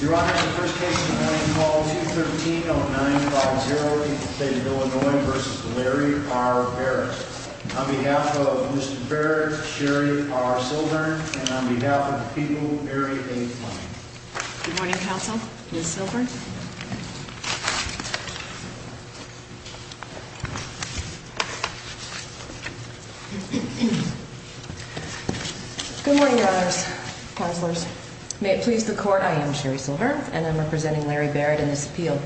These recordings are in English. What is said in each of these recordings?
Your Honor, the first case of the morning, call 213-0950 in the state of Illinois v. Larry R. Barrett. On behalf of Mr. Barrett, Sherry R. Silver, and on behalf of the people, Mary A. Fine. Good morning, Counsel. Ms. Silver. Good morning, Your Honors. Counselors. May it please the Court, I am Sherry Silver, and I'm representing Larry Barrett in this appeal.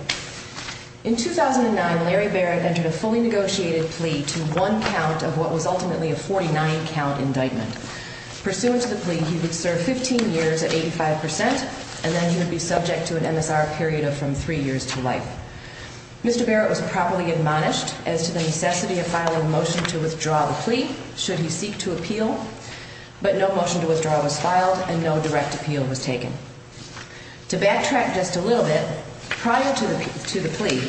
In 2009, Larry Barrett entered a fully negotiated plea to one count of what was ultimately a 49-count indictment. Pursuant to the plea, he would serve 15 years at 85%, and then he would be subject to an MSR period of from three years to life. Mr. Barrett was properly admonished as to the necessity of filing a motion to withdraw the plea should he seek to appeal, but no motion to withdraw was filed and no direct appeal was taken. To backtrack just a little bit, prior to the plea,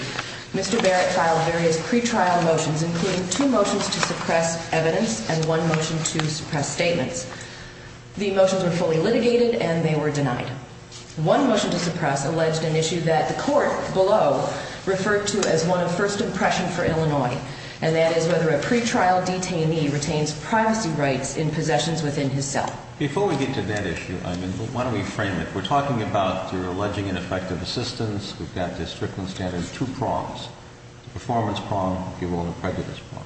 Mr. Barrett filed various pretrial motions, including two motions to suppress evidence and one motion to suppress statements. The motions were fully litigated and they were denied. One motion to suppress alleged an issue that the Court below referred to as one of first impression for Illinois, and that is whether a pretrial detainee retains privacy rights in possessions within his cell. Before we get to that issue, I mean, why don't we frame it? We're talking about, through alleging ineffective assistance, we've got this Strickland standard, two prongs. The performance prong, if you will, and the prejudice prong.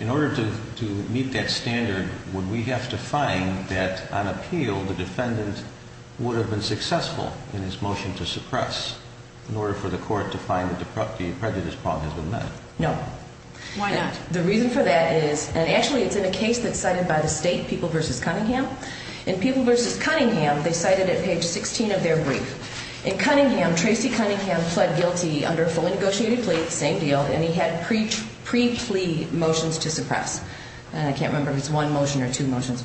In order to meet that standard, would we have to find that, on appeal, the defendant would have been successful in his motion to suppress in order for the Court to find that the prejudice prong has been met? No. Why not? The reason for that is, and actually it's in a case that's cited by the state, People v. Cunningham. In People v. Cunningham, they cite it at page 16 of their brief. In Cunningham, Tracy Cunningham pled guilty under a fully negotiated plea, same deal, and he had pre-plea motions to suppress. I can't remember if it's one motion or two motions.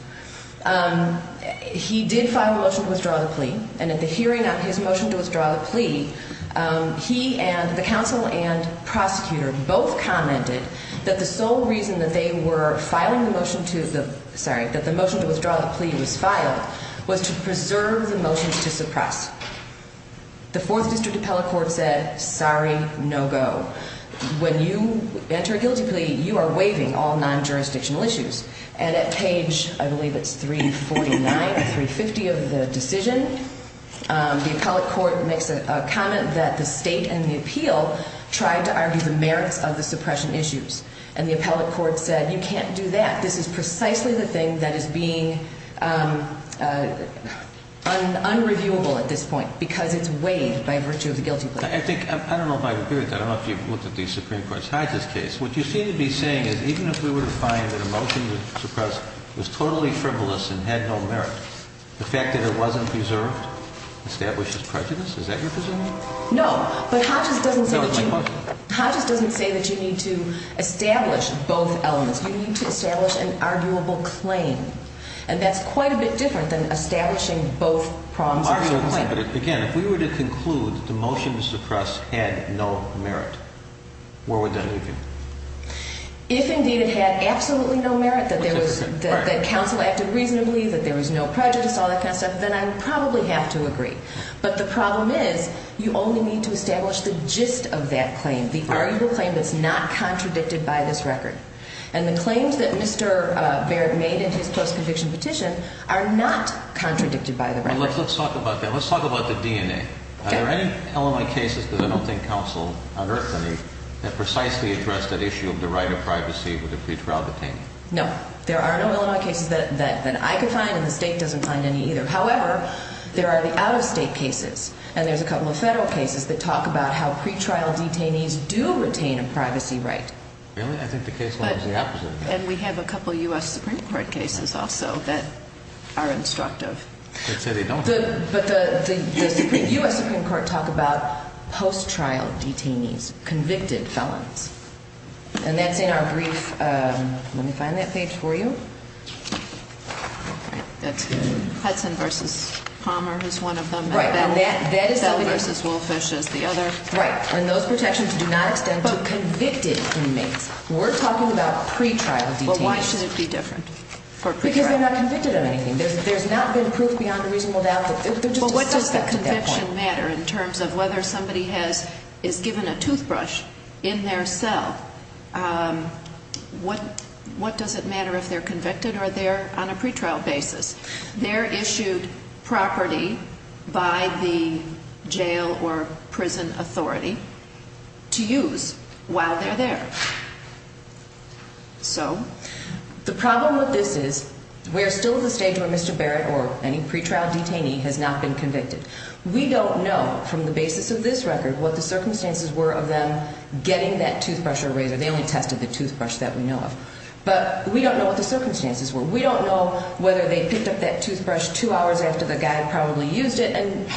He did file a motion to withdraw the plea, and at the hearing on his motion to withdraw the plea, he and the counsel and prosecutor both commented that the sole reason that they were filing the motion to the, sorry, that the motion to withdraw the plea was filed was to preserve the motions to suppress. The Fourth District Appellate Court said, sorry, no go. When you enter a guilty plea, you are waiving all non-jurisdictional issues. And at page, I believe it's 349 or 350 of the decision, the Appellate Court makes a comment that the state and the appeal tried to argue the merits of the suppression issues. And the Appellate Court said, you can't do that. This is precisely the thing that is being unreviewable at this point because it's waived by virtue of the guilty plea. I think, I don't know if I agree with that. I don't know if you've looked at the Supreme Court's Hodges case. What you seem to be saying is even if we were to find that a motion to suppress was totally frivolous and had no merit, the fact that it wasn't preserved establishes prejudice. Is that your presumption? But Hodges doesn't say that you. That was my question. You need to establish both elements. You need to establish an arguable claim. And that's quite a bit different than establishing both prongs of the claim. But again, if we were to conclude that the motion to suppress had no merit, where would that leave you? If indeed it had absolutely no merit, that there was, that counsel acted reasonably, that there was no prejudice, all that kind of stuff, then I would probably have to agree. But the problem is you only need to establish the gist of that claim, the arguable claim that's not contradicted by this record. And the claims that Mr. Barrett made in his post-conviction petition are not contradicted by the record. Let's talk about that. Let's talk about the DNA. Are there any Illinois cases that I don't think counsel unearthed any that precisely address that issue of the right of privacy with a pretrial detainee? No. There are no Illinois cases that I could find and the State doesn't find any either. However, there are the out-of-state cases and there's a couple of federal cases that talk about how pretrial detainees do retain a privacy right. Really? I think the case law is the opposite. And we have a couple of U.S. Supreme Court cases also that are instructive. I'd say they don't. But the U.S. Supreme Court talk about post-trial detainees, convicted felons. And that's in our brief. Let me find that page for you. Hudson v. Palmer is one of them. Right. That is the one. Bell v. Wolfish is the other. Right. And those protections do not extend to convicted inmates. We're talking about pretrial detainees. Well, why should it be different for pretrial? Because they're not convicted of anything. There's not been proof beyond a reasonable doubt. But what does the conviction matter in terms of whether somebody is given a toothbrush in their cell? What does it matter if they're convicted or they're on a pretrial basis? They're issued property by the jail or prison authority to use while they're there. So? The problem with this is we're still at the stage where Mr. Barrett or any pretrial detainee has not been convicted. We don't know from the basis of this record what the circumstances were of them getting that toothbrush or razor. They only tested the toothbrush that we know of. But we don't know what the circumstances were. We don't know whether they picked up that toothbrush two hours after the guy probably used it and,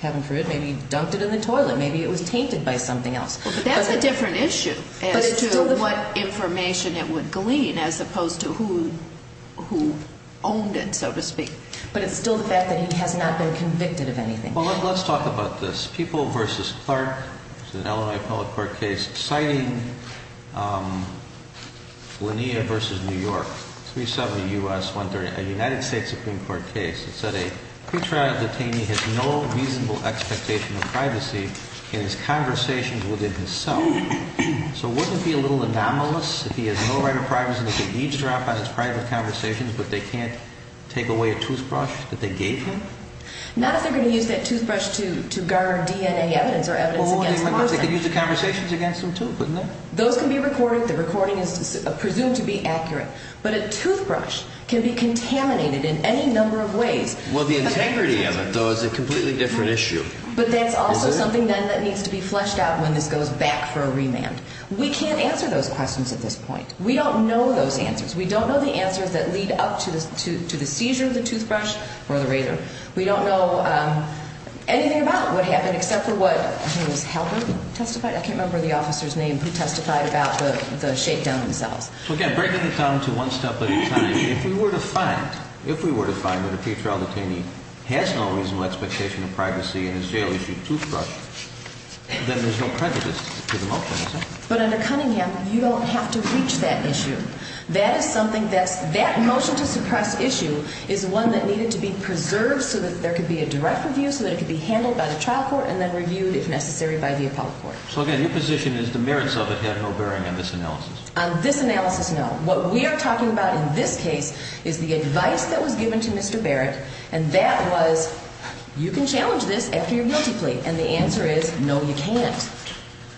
heaven forbid, maybe dumped it in the toilet. Maybe it was tainted by something else. But that's a different issue as to what information it would glean as opposed to who owned it, so to speak. But it's still the fact that he has not been convicted of anything. Well, let's talk about this. People v. Clark, which is an Illinois Appellate Court case, citing Lanier v. New York, 370 U.S. 130, a United States Supreme Court case. It said a pretrial detainee has no reasonable expectation of privacy in his conversations within his cell. So wouldn't it be a little anomalous if he has no right of privacy and he can eavesdrop on his private conversations but they can't take away a toothbrush that they gave him? Not if they're going to use that toothbrush to guard DNA evidence or evidence against him. They could use the conversations against him, too, couldn't they? Those can be recorded. The recording is presumed to be accurate. But a toothbrush can be contaminated in any number of ways. Well, the integrity of it, though, is a completely different issue. But that's also something, then, that needs to be fleshed out when this goes back for a remand. We can't answer those questions at this point. We don't know those answers. We don't know the answers that lead up to the seizure of the toothbrush or the razor. We don't know anything about what happened except for what, I think it was Halpert testified. I can't remember the officer's name who testified about the shakedown themselves. So, again, breaking it down to one step at a time, if we were to find, if we were to find that a pretrial detainee has no reasonable expectation of privacy in his jail-issued toothbrush, then there's no prejudice to the motion, is there? But under Cunningham, you don't have to reach that issue. That is something that's – that motion to suppress issue is one that needed to be preserved so that there could be a direct review, so that it could be handled by the trial court and then reviewed, if necessary, by the appellate court. So, again, your position is the merits of it have no bearing on this analysis? On this analysis, no. What we are talking about in this case is the advice that was given to Mr. Barrett, and that was, you can challenge this after your guilty plea, and the answer is, no, you can't.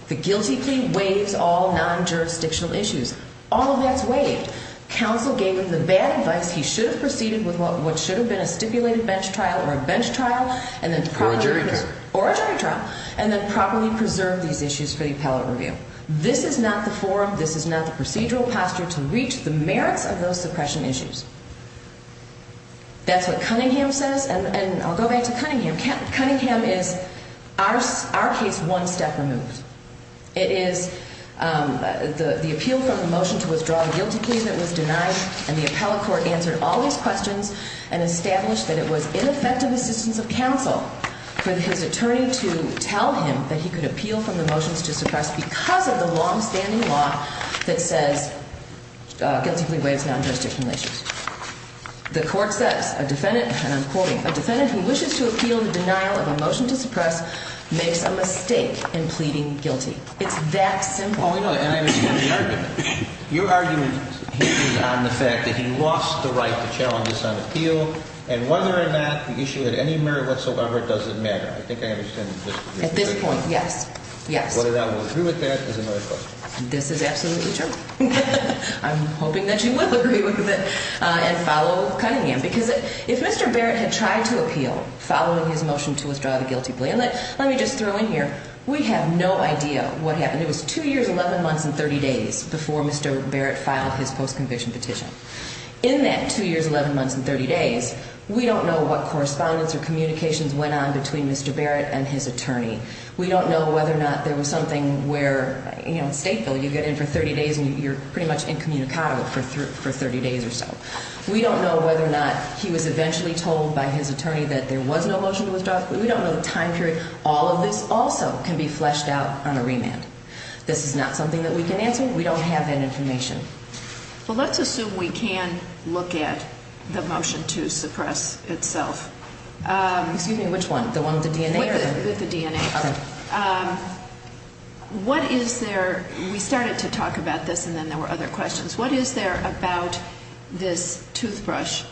The guilty plea waives all non-jurisdictional issues. All of that's waived. Counsel gave him the bad advice. He should have proceeded with what should have been a stipulated bench trial or a bench trial and then – Or a jury trial. Or a jury trial, and then properly preserved these issues for the appellate review. This is not the forum, this is not the procedural posture to reach the merits of those suppression issues. That's what Cunningham says, and I'll go back to Cunningham. Cunningham is, our case, one step removed. It is the appeal from the motion to withdraw the guilty plea that was denied, and the appellate court answered all these questions and established that it was ineffective assistance of counsel for his attorney to tell him that he could appeal from the motions to suppress because of the longstanding law that says guilty plea waives non-jurisdictional issues. The court says a defendant, and I'm quoting, a defendant who wishes to appeal the denial of a motion to suppress makes a mistake in pleading guilty. It's that simple. Oh, I know, and I understand the argument. Your argument hinges on the fact that he lost the right to challenge this on appeal, and whether or not the issue at any merit whatsoever doesn't matter. I think I understand this. At this point, yes. Yes. Whether that will agree with that is another question. This is absolutely true. I'm hoping that you will agree with it and follow Cunningham because if Mr. Barrett had tried to appeal following his motion to withdraw the guilty plea, and let me just throw in here, we have no idea what happened. It was two years, 11 months, and 30 days before Mr. Barrett filed his post-conviction petition. In that two years, 11 months, and 30 days, we don't know what correspondence or communications went on between Mr. Barrett and his attorney. We don't know whether or not there was something where, you know, state bill, you get in for 30 days and you're pretty much incommunicado for 30 days or so. We don't know whether or not he was eventually told by his attorney that there was no motion to withdraw, but we don't know the time period. All of this also can be fleshed out on a remand. This is not something that we can answer. We don't have that information. Well, let's assume we can look at the motion to suppress itself. Excuse me, which one? The one with the DNA? With the DNA. Okay. What is there? We started to talk about this, and then there were other questions. What is there about this toothbrush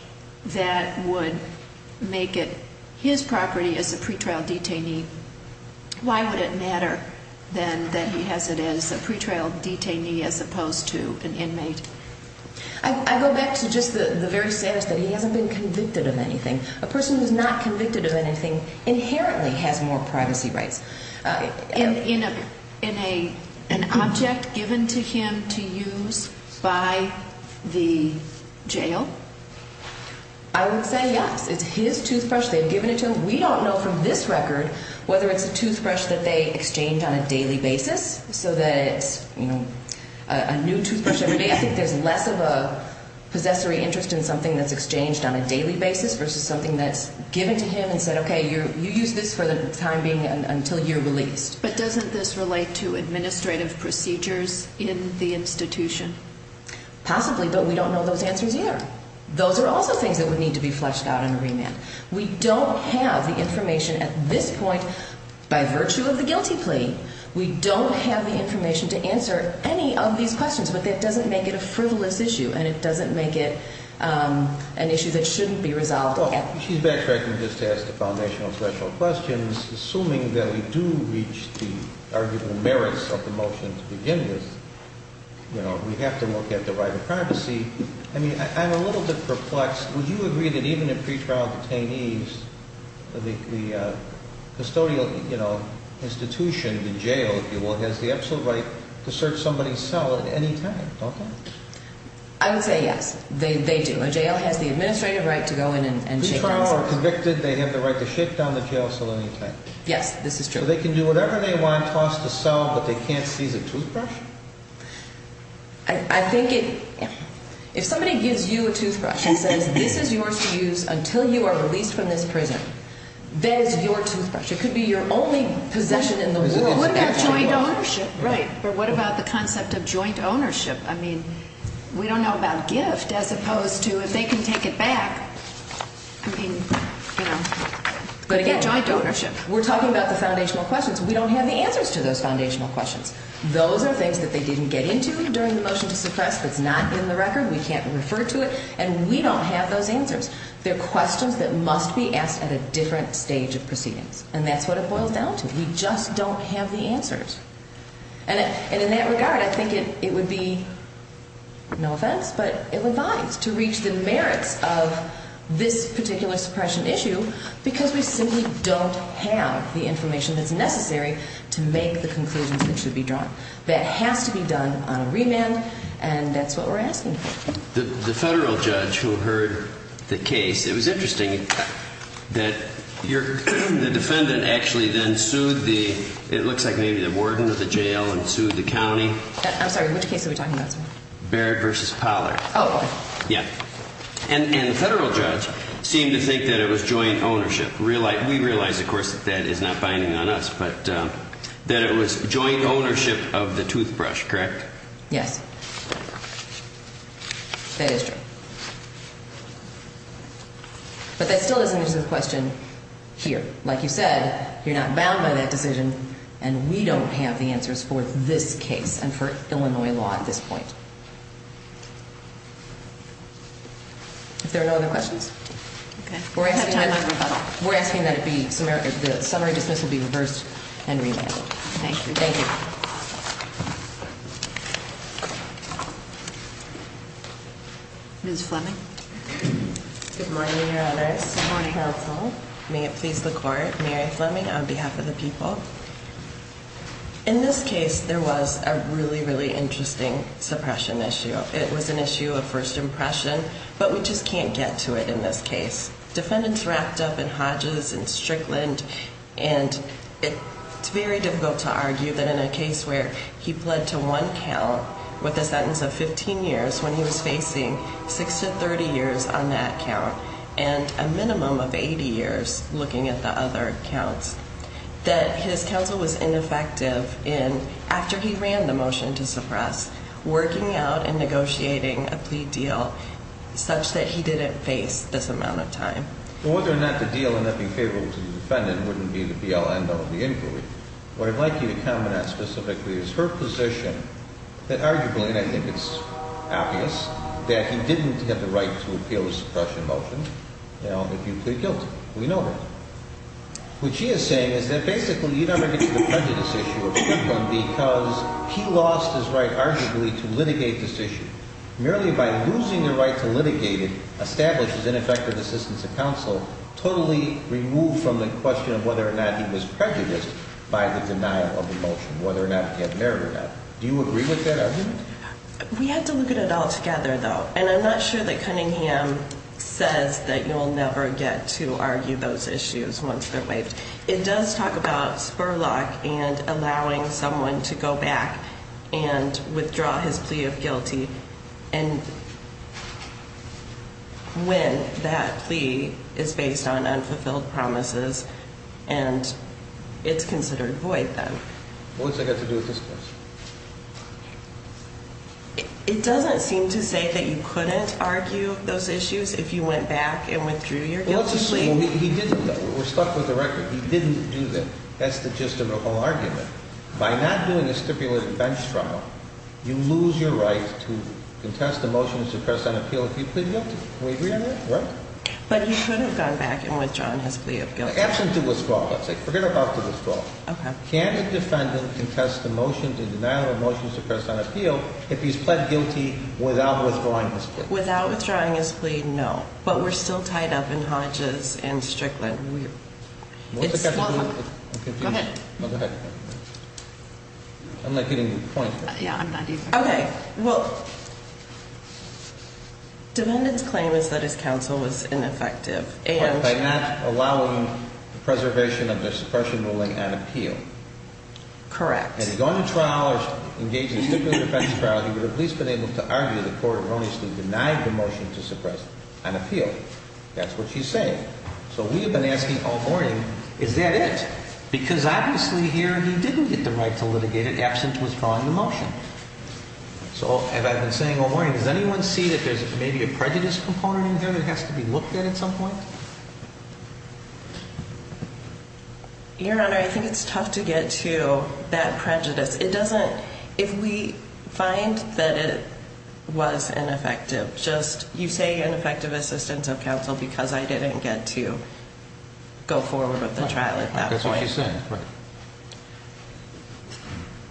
that would make it his property as a pretrial detainee? Why would it matter, then, that he has it as a pretrial detainee as opposed to an inmate? I go back to just the very status that he hasn't been convicted of anything. A person who's not convicted of anything inherently has more privacy rights. In an object given to him to use by the jail? I would say yes. It's his toothbrush. They've given it to him. We don't know from this record whether it's a toothbrush that they exchange on a daily basis so that it's, you know, a new toothbrush every day. I think there's less of a possessory interest in something that's exchanged on a daily basis versus something that's given to him and said, okay, you use this for the time being until you're released. But doesn't this relate to administrative procedures in the institution? Possibly, but we don't know those answers either. Those are also things that would need to be fleshed out in a remand. We don't have the information at this point by virtue of the guilty plea. We don't have the information to answer any of these questions, but that doesn't make it a frivolous issue, and it doesn't make it an issue that shouldn't be resolved. She's backtracking just to ask the foundational questions. Assuming that we do reach the arguable merits of the motion to begin with, you know, we have to look at the right of privacy. I mean, I'm a little bit perplexed. Would you agree that even if pretrial detainees, the custodial, you know, institution, the jail, if you will, has the absolute right to search somebody's cell at any time? Okay. I would say yes, they do. A jail has the administrative right to go in and shake down somebody's cell. Pretrial are convicted, they have the right to shake down the jail cell at any time. Yes, this is true. So they can do whatever they want, toss the cell, but they can't seize a toothbrush? I think if somebody gives you a toothbrush and says this is yours to use until you are released from this prison, that is your toothbrush. It could be your only possession in the world. What about joint ownership? Right, but what about the concept of joint ownership? I mean, we don't know about gift as opposed to if they can take it back, I mean, you know, joint ownership. But again, we're talking about the foundational questions. We don't have the answers to those foundational questions. Those are things that they didn't get into during the motion to suppress that's not in the record. We can't refer to it. And we don't have those answers. They're questions that must be asked at a different stage of proceedings. And that's what it boils down to. We just don't have the answers. And in that regard, I think it would be, no offense, but it would bind to reach the merits of this particular suppression issue because we simply don't have the information that's necessary to make the conclusions that should be drawn. That has to be done on a remand, and that's what we're asking for. The federal judge who heard the case, it was interesting that the defendant actually then sued the, it looks like maybe the warden of the jail and sued the county. I'm sorry, which case are we talking about, sir? Barrett v. Pollard. Oh, okay. Yeah. And the federal judge seemed to think that it was joint ownership. We realize, of course, that that is not binding on us, but that it was joint ownership of the toothbrush, correct? Yes. That is true. But that still doesn't answer the question here. Like you said, you're not bound by that decision, and we don't have the answers for this case and for Illinois law at this point. If there are no other questions, we're asking that the summary dismissal be reversed and remanded. Thank you. Thank you. Ms. Fleming. Good morning, Your Honors. Good morning. Good morning, counsel. May it please the court. Mary Fleming on behalf of the people. In this case, there was a really, really interesting suppression issue. It was an issue of first impression, but we just can't get to it in this case. Defendants wrapped up in Hodges and Strickland, and it's very difficult to argue that in a case where he pled to one count with a sentence of 15 years when he was facing 6 to 30 years on that count and a minimum of 80 years looking at the other counts, that his counsel was ineffective in, after he ran the motion to suppress, working out and negotiating a plea deal such that he didn't face this amount of time. So whether or not the deal ended up being favorable to the defendant wouldn't be the be-all, end-all of the inquiry. What I'd like you to comment on specifically is her position that arguably, and I think it's obvious, that he didn't have the right to appeal the suppression motion, you know, if you plead guilty. We know that. What she is saying is that basically you never get to the prejudice issue of Strickland because he lost his right, arguably, to litigate this issue. Merely by losing the right to litigate it establishes ineffective assistance of counsel, totally removed from the question of whether or not he was prejudiced by the denial of the motion, whether or not he had merit in that. Do you agree with that argument? We have to look at it all together, though. And I'm not sure that Cunningham says that you'll never get to argue those issues once they're waived. It does talk about Spurlock and allowing someone to go back and withdraw his plea of guilty when that plea is based on unfulfilled promises and it's considered void then. What's that got to do with this case? It doesn't seem to say that you couldn't argue those issues if you went back and withdrew your guilty plea. We're stuck with the record. He didn't do that. That's the gist of the whole argument. By not doing a stipulated bench trial, you lose your right to contest a motion to suppress an appeal if you plead guilty. Can we agree on that? Right? But he could have gone back and withdrawn his plea of guilty. Absent the withdrawal, let's say. Forget about the withdrawal. Okay. Can a defendant contest a motion to deny a motion to suppress an appeal if he's pled guilty without withdrawing his plea? Without withdrawing his plea, no. But we're still tied up in Hodges and Strickland. Go ahead. Go ahead. I'm not getting the point. Yeah, I'm not either. Okay. Well, defendant's claim is that his counsel was ineffective and that he would have at least been able to argue the court erroneously denied the motion to suppress an appeal. That's what she's saying. So we have been asking, oh, Horning, is that it? Because obviously here he didn't get the right to litigate it absent withdrawing the motion. So have I been saying, oh, Horning, does anyone see that there's maybe a prejudice component in here that has to be looked at at some point? Your Honor, I think it's tough to get to that prejudice. It doesn't, if we find that it was ineffective, just you say ineffective assistance of counsel because I didn't get to go forward with the trial at that point. That's what she's saying. Right.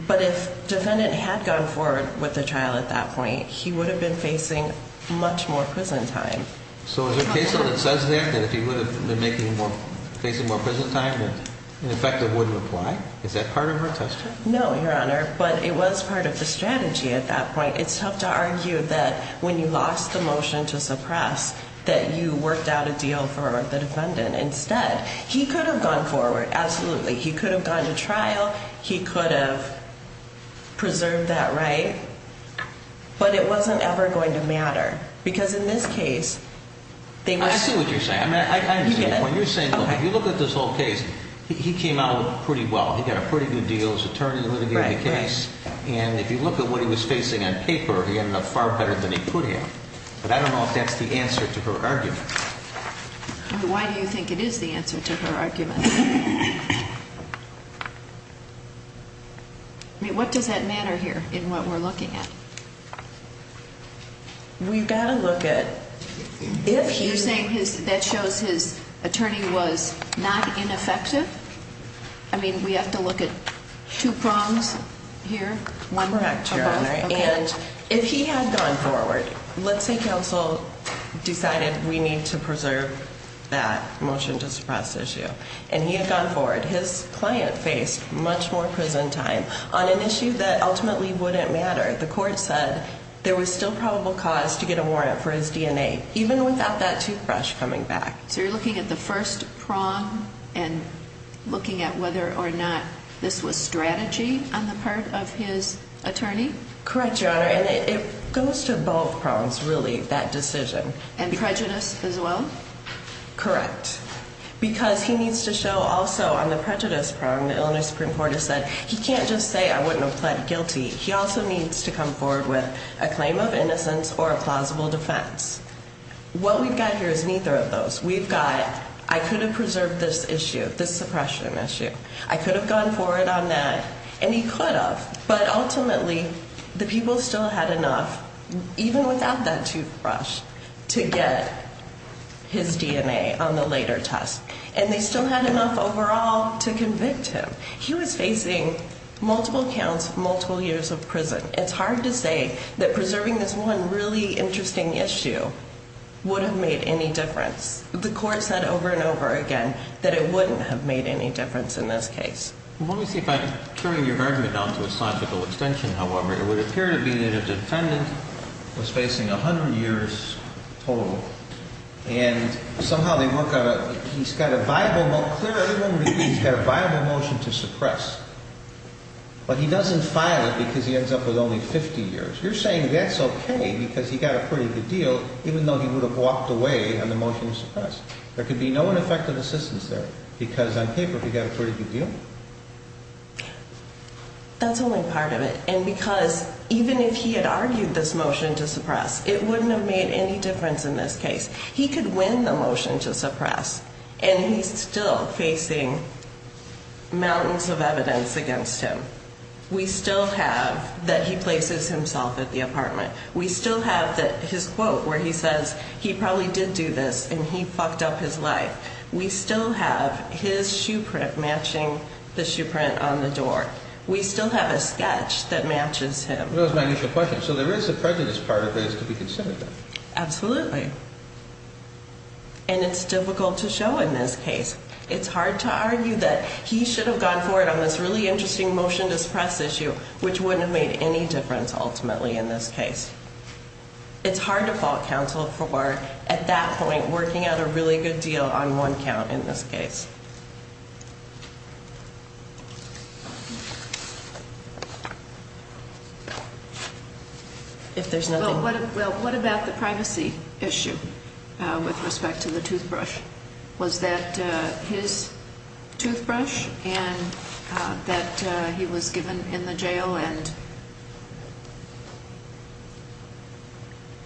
But if defendant had gone forward with the trial at that point, he would have been facing much more prison time. So is there a case that says that, that if he would have been facing more prison time, that ineffective wouldn't apply? Is that part of her test? No, Your Honor, but it was part of the strategy at that point. It's tough to argue that when you lost the motion to suppress, that you worked out a deal for the defendant instead. He could have gone forward. Absolutely. He could have gone to trial. But it wasn't ever going to matter. Because in this case, they were... I see what you're saying. You get it. When you're saying, if you look at this whole case, he came out pretty well. He got a pretty good deal as attorney to litigate the case. Right, right. And if you look at what he was facing on paper, he ended up far better than he could have. But I don't know if that's the answer to her argument. Why do you think it is the answer to her argument? I mean, what does that matter here in what we're looking at? We've got to look at... You're saying that shows his attorney was not ineffective? I mean, we have to look at two prongs here? One prong, Your Honor. And if he had gone forward, let's say counsel decided we need to preserve that motion to suppress issue. And he had gone forward. His client faced much more prison time on an issue that ultimately wouldn't matter. The court said there was still probable cause to get a warrant for his DNA, even without that toothbrush coming back. So you're looking at the first prong and looking at whether or not this was strategy on the part of his attorney? Correct, Your Honor. And it goes to both prongs, really, that decision. And prejudice as well? Correct. Because he needs to show also on the prejudice prong, the Illinois Supreme Court has said, he can't just say I wouldn't have pled guilty. He also needs to come forward with a claim of innocence or a plausible defense. What we've got here is neither of those. We've got I could have preserved this issue, this suppression issue. I could have gone forward on that. And he could have. But ultimately, the people still had enough, even without that toothbrush, to get his DNA on the later test. And they still had enough overall to convict him. He was facing multiple counts, multiple years of prison. It's hard to say that preserving this one really interesting issue would have made any difference. The court said over and over again that it wouldn't have made any difference in this case. Let me see if I'm tearing your argument down to a scientifical extension, however. It would appear to be that a defendant was facing 100 years total. And somehow they work out he's got a viable motion to suppress. But he doesn't file it because he ends up with only 50 years. You're saying that's okay because he got a pretty good deal, even though he would have walked away on the motion to suppress. There could be no ineffective assistance there because on paper he got a pretty good deal. That's only part of it. And because even if he had argued this motion to suppress, it wouldn't have made any difference in this case. He could win the motion to suppress and he's still facing mountains of evidence against him. We still have that he places himself at the apartment. We still have that his quote where he says he probably did do this and he fucked up his life. We still have his shoe print matching the shoe print on the door. We still have a sketch that matches him. That was my initial question. So there is a prejudice part of this to be considered then. Absolutely. And it's difficult to show in this case. It's hard to argue that he should have gone for it on this really interesting motion to suppress issue, which wouldn't have made any difference ultimately in this case. It's hard to fault counsel for at that point working out a really good deal on one count in this case. If there's nothing. Well, what about the privacy issue with respect to the toothbrush? Was that his toothbrush and that he was given in the jail and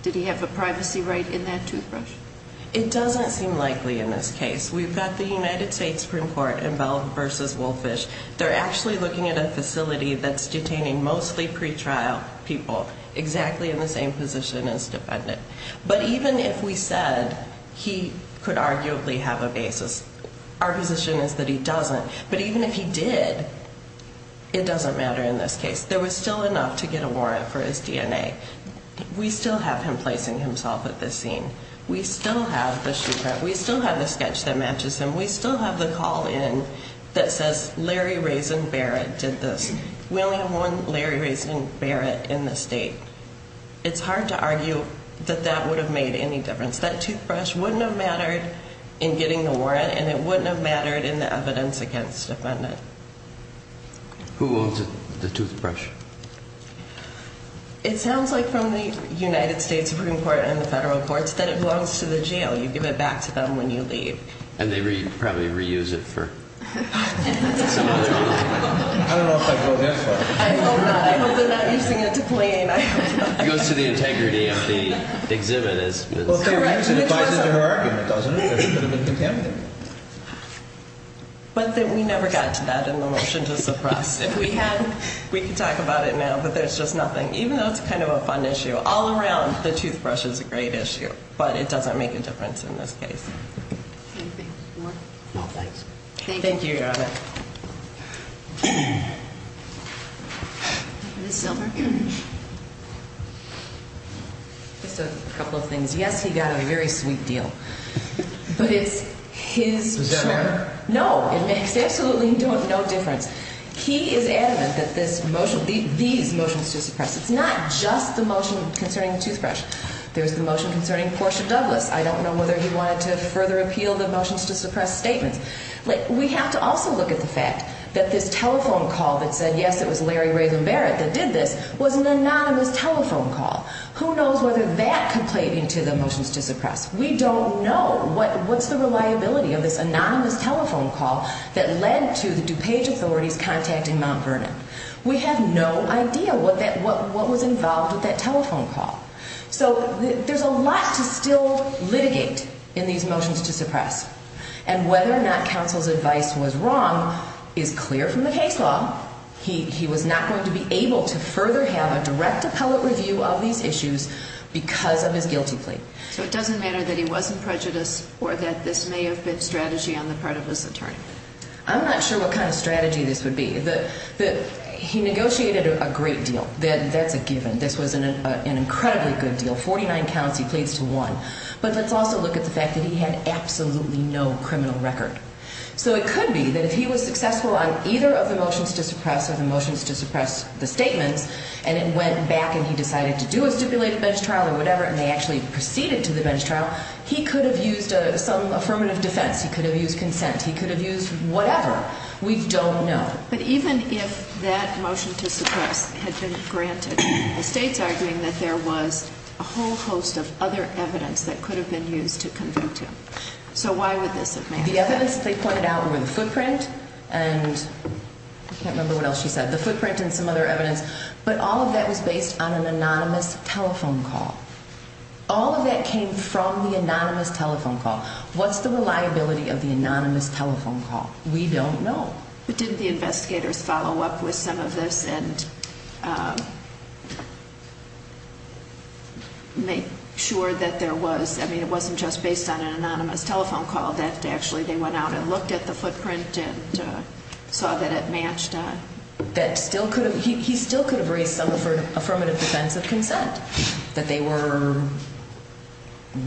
did he have a privacy right in that toothbrush? It doesn't seem likely in this case. We've got the United States Supreme Court involved versus Wolfish. They're actually looking at a facility that's detaining mostly pretrial people exactly in the same position as defendant. But even if we said he could arguably have a basis, our position is that he doesn't. But even if he did, it doesn't matter in this case. There was still enough to get a warrant for his DNA. We still have him placing himself at this scene. We still have the shoe print. We still have the sketch that matches him. We still have the call in that says Larry Raisin Barrett did this. We only have one Larry Raisin Barrett in the state. It's hard to argue that that would have made any difference. That toothbrush wouldn't have mattered in getting the warrant and it wouldn't have mattered in the evidence against defendant. Who owns the toothbrush? It sounds like from the United States Supreme Court and the federal courts that it belongs to the jail. You give it back to them when you leave. And they probably reuse it for some other reason. I don't know if I'd go that far. I hope not. I hope they're not using it to clean. It goes to the integrity of the exhibit. It applies to her argument, doesn't it? It could have been contaminated. But we never got to that in the motion to suppress. If we had, we could talk about it now, but there's just nothing. Even though it's kind of a fun issue, all around the toothbrush is a great issue. But it doesn't make a difference in this case. Anything more? No, thanks. Thank you, Your Honor. Ms. Silver? Just a couple of things. Yes, he got a very sweet deal. But it's his choice. Was that her? No. It makes absolutely no difference. He is adamant that this motion, these motions to suppress, it's not just the motion concerning the toothbrush. There's the motion concerning Portia Douglas. I don't know whether he wanted to further appeal the motions to suppress statement. We have to also look at the fact that this telephone call that said, yes, it was Larry Raven Barrett that did this, was an anonymous telephone call. Who knows whether that could play into the motions to suppress. We don't know what's the reliability of this anonymous telephone call that led to the DuPage authorities contacting Mount Vernon. We have no idea what was involved with that telephone call. So there's a lot to still litigate in these motions to suppress. And whether or not counsel's advice was wrong is clear from the case law. He was not going to be able to further have a direct appellate review of these issues because of his guilty plea. So it doesn't matter that he wasn't prejudiced or that this may have been strategy on the part of his attorney? I'm not sure what kind of strategy this would be. He negotiated a great deal. That's a given. This was an incredibly good deal, 49 counts, he pleads to one. But let's also look at the fact that he had absolutely no criminal record. So it could be that if he was successful on either of the motions to suppress or the motions to suppress the statements, and it went back and he decided to do a stipulated bench trial or whatever and they actually proceeded to the bench trial, he could have used some affirmative defense. He could have used consent. He could have used whatever. We don't know. But even if that motion to suppress had been granted, the state's arguing that there was a whole host of other evidence that could have been used to convict him. So why would this have mattered? The evidence they pointed out were the footprint and I can't remember what else she said, the footprint and some other evidence. But all of that was based on an anonymous telephone call. All of that came from the anonymous telephone call. What's the reliability of the anonymous telephone call? We don't know. But didn't the investigators follow up with some of this and make sure that there was, I mean, it wasn't just based on an anonymous telephone call, that actually they went out and looked at the footprint and saw that it matched that? That still could have, he still could have raised some affirmative defense of consent, that they were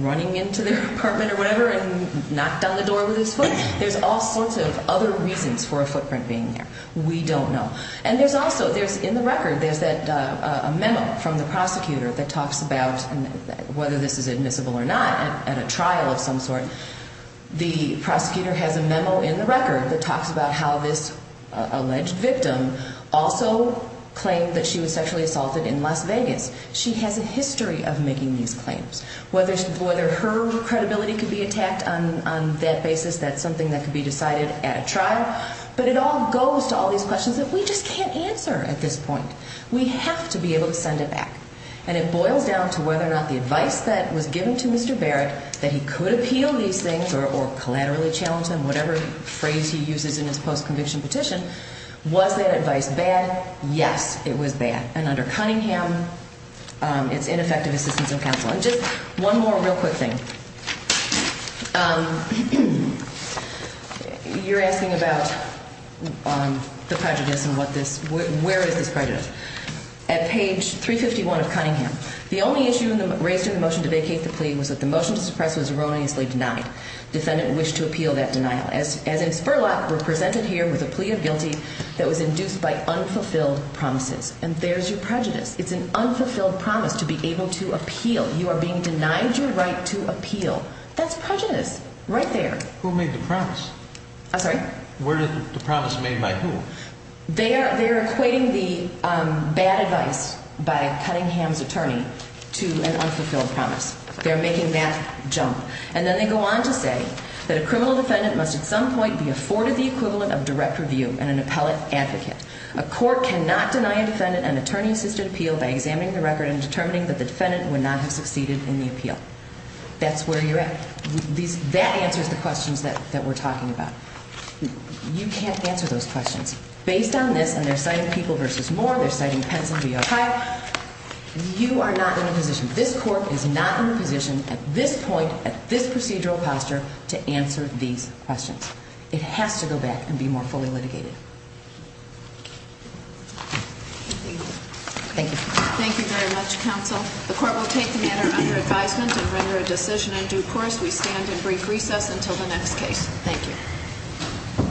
running into their apartment or whatever and knocked on the door with his foot. There's all sorts of other reasons for a footprint being there. We don't know. And there's also, there's in the record, there's a memo from the prosecutor that talks about whether this is admissible or not at a trial of some sort. The prosecutor has a memo in the record that talks about how this alleged victim also claimed that she was sexually assaulted in Las Vegas. She has a history of making these claims. Whether her credibility could be attacked on that basis, that's something that could be decided at a trial. But it all goes to all these questions that we just can't answer at this point. We have to be able to send it back. And it boils down to whether or not the advice that was given to Mr. Barrett that he could appeal these things or collaterally challenge them, whatever phrase he uses in his post-conviction petition, was that advice bad? Yes, it was bad. And under Cunningham, it's ineffective assistance of counsel. And just one more real quick thing. You're asking about the prejudice and what this, where is this prejudice? At page 351 of Cunningham, the only issue raised in the motion to vacate the plea was that the motion to suppress was erroneously denied. Defendant wished to appeal that denial. As in Spurlock, we're presented here with a plea of guilty that was induced by unfulfilled promises. And there's your prejudice. It's an unfulfilled promise to be able to appeal. You are being denied your right to appeal. That's prejudice right there. Who made the promise? I'm sorry? The promise made by who? They are equating the bad advice by Cunningham's attorney to an unfulfilled promise. They're making that jump. And then they go on to say that a criminal defendant must at some point be afforded the equivalent of direct review and an appellate advocate. A court cannot deny a defendant an attorney-assisted appeal by examining the record and determining that the defendant would not have succeeded in the appeal. That's where you're at. That answers the questions that we're talking about. You can't answer those questions. Based on this, and they're citing People v. Moore, they're citing Pence v. O'Reilly, you are not in a position. This court is not in a position at this point, at this procedural posture, to answer these questions. It has to go back and be more fully litigated. Thank you. Thank you very much, counsel. The court will take the matter under advisement and render a decision on due course. We stand in brief recess until the next case. Thank you.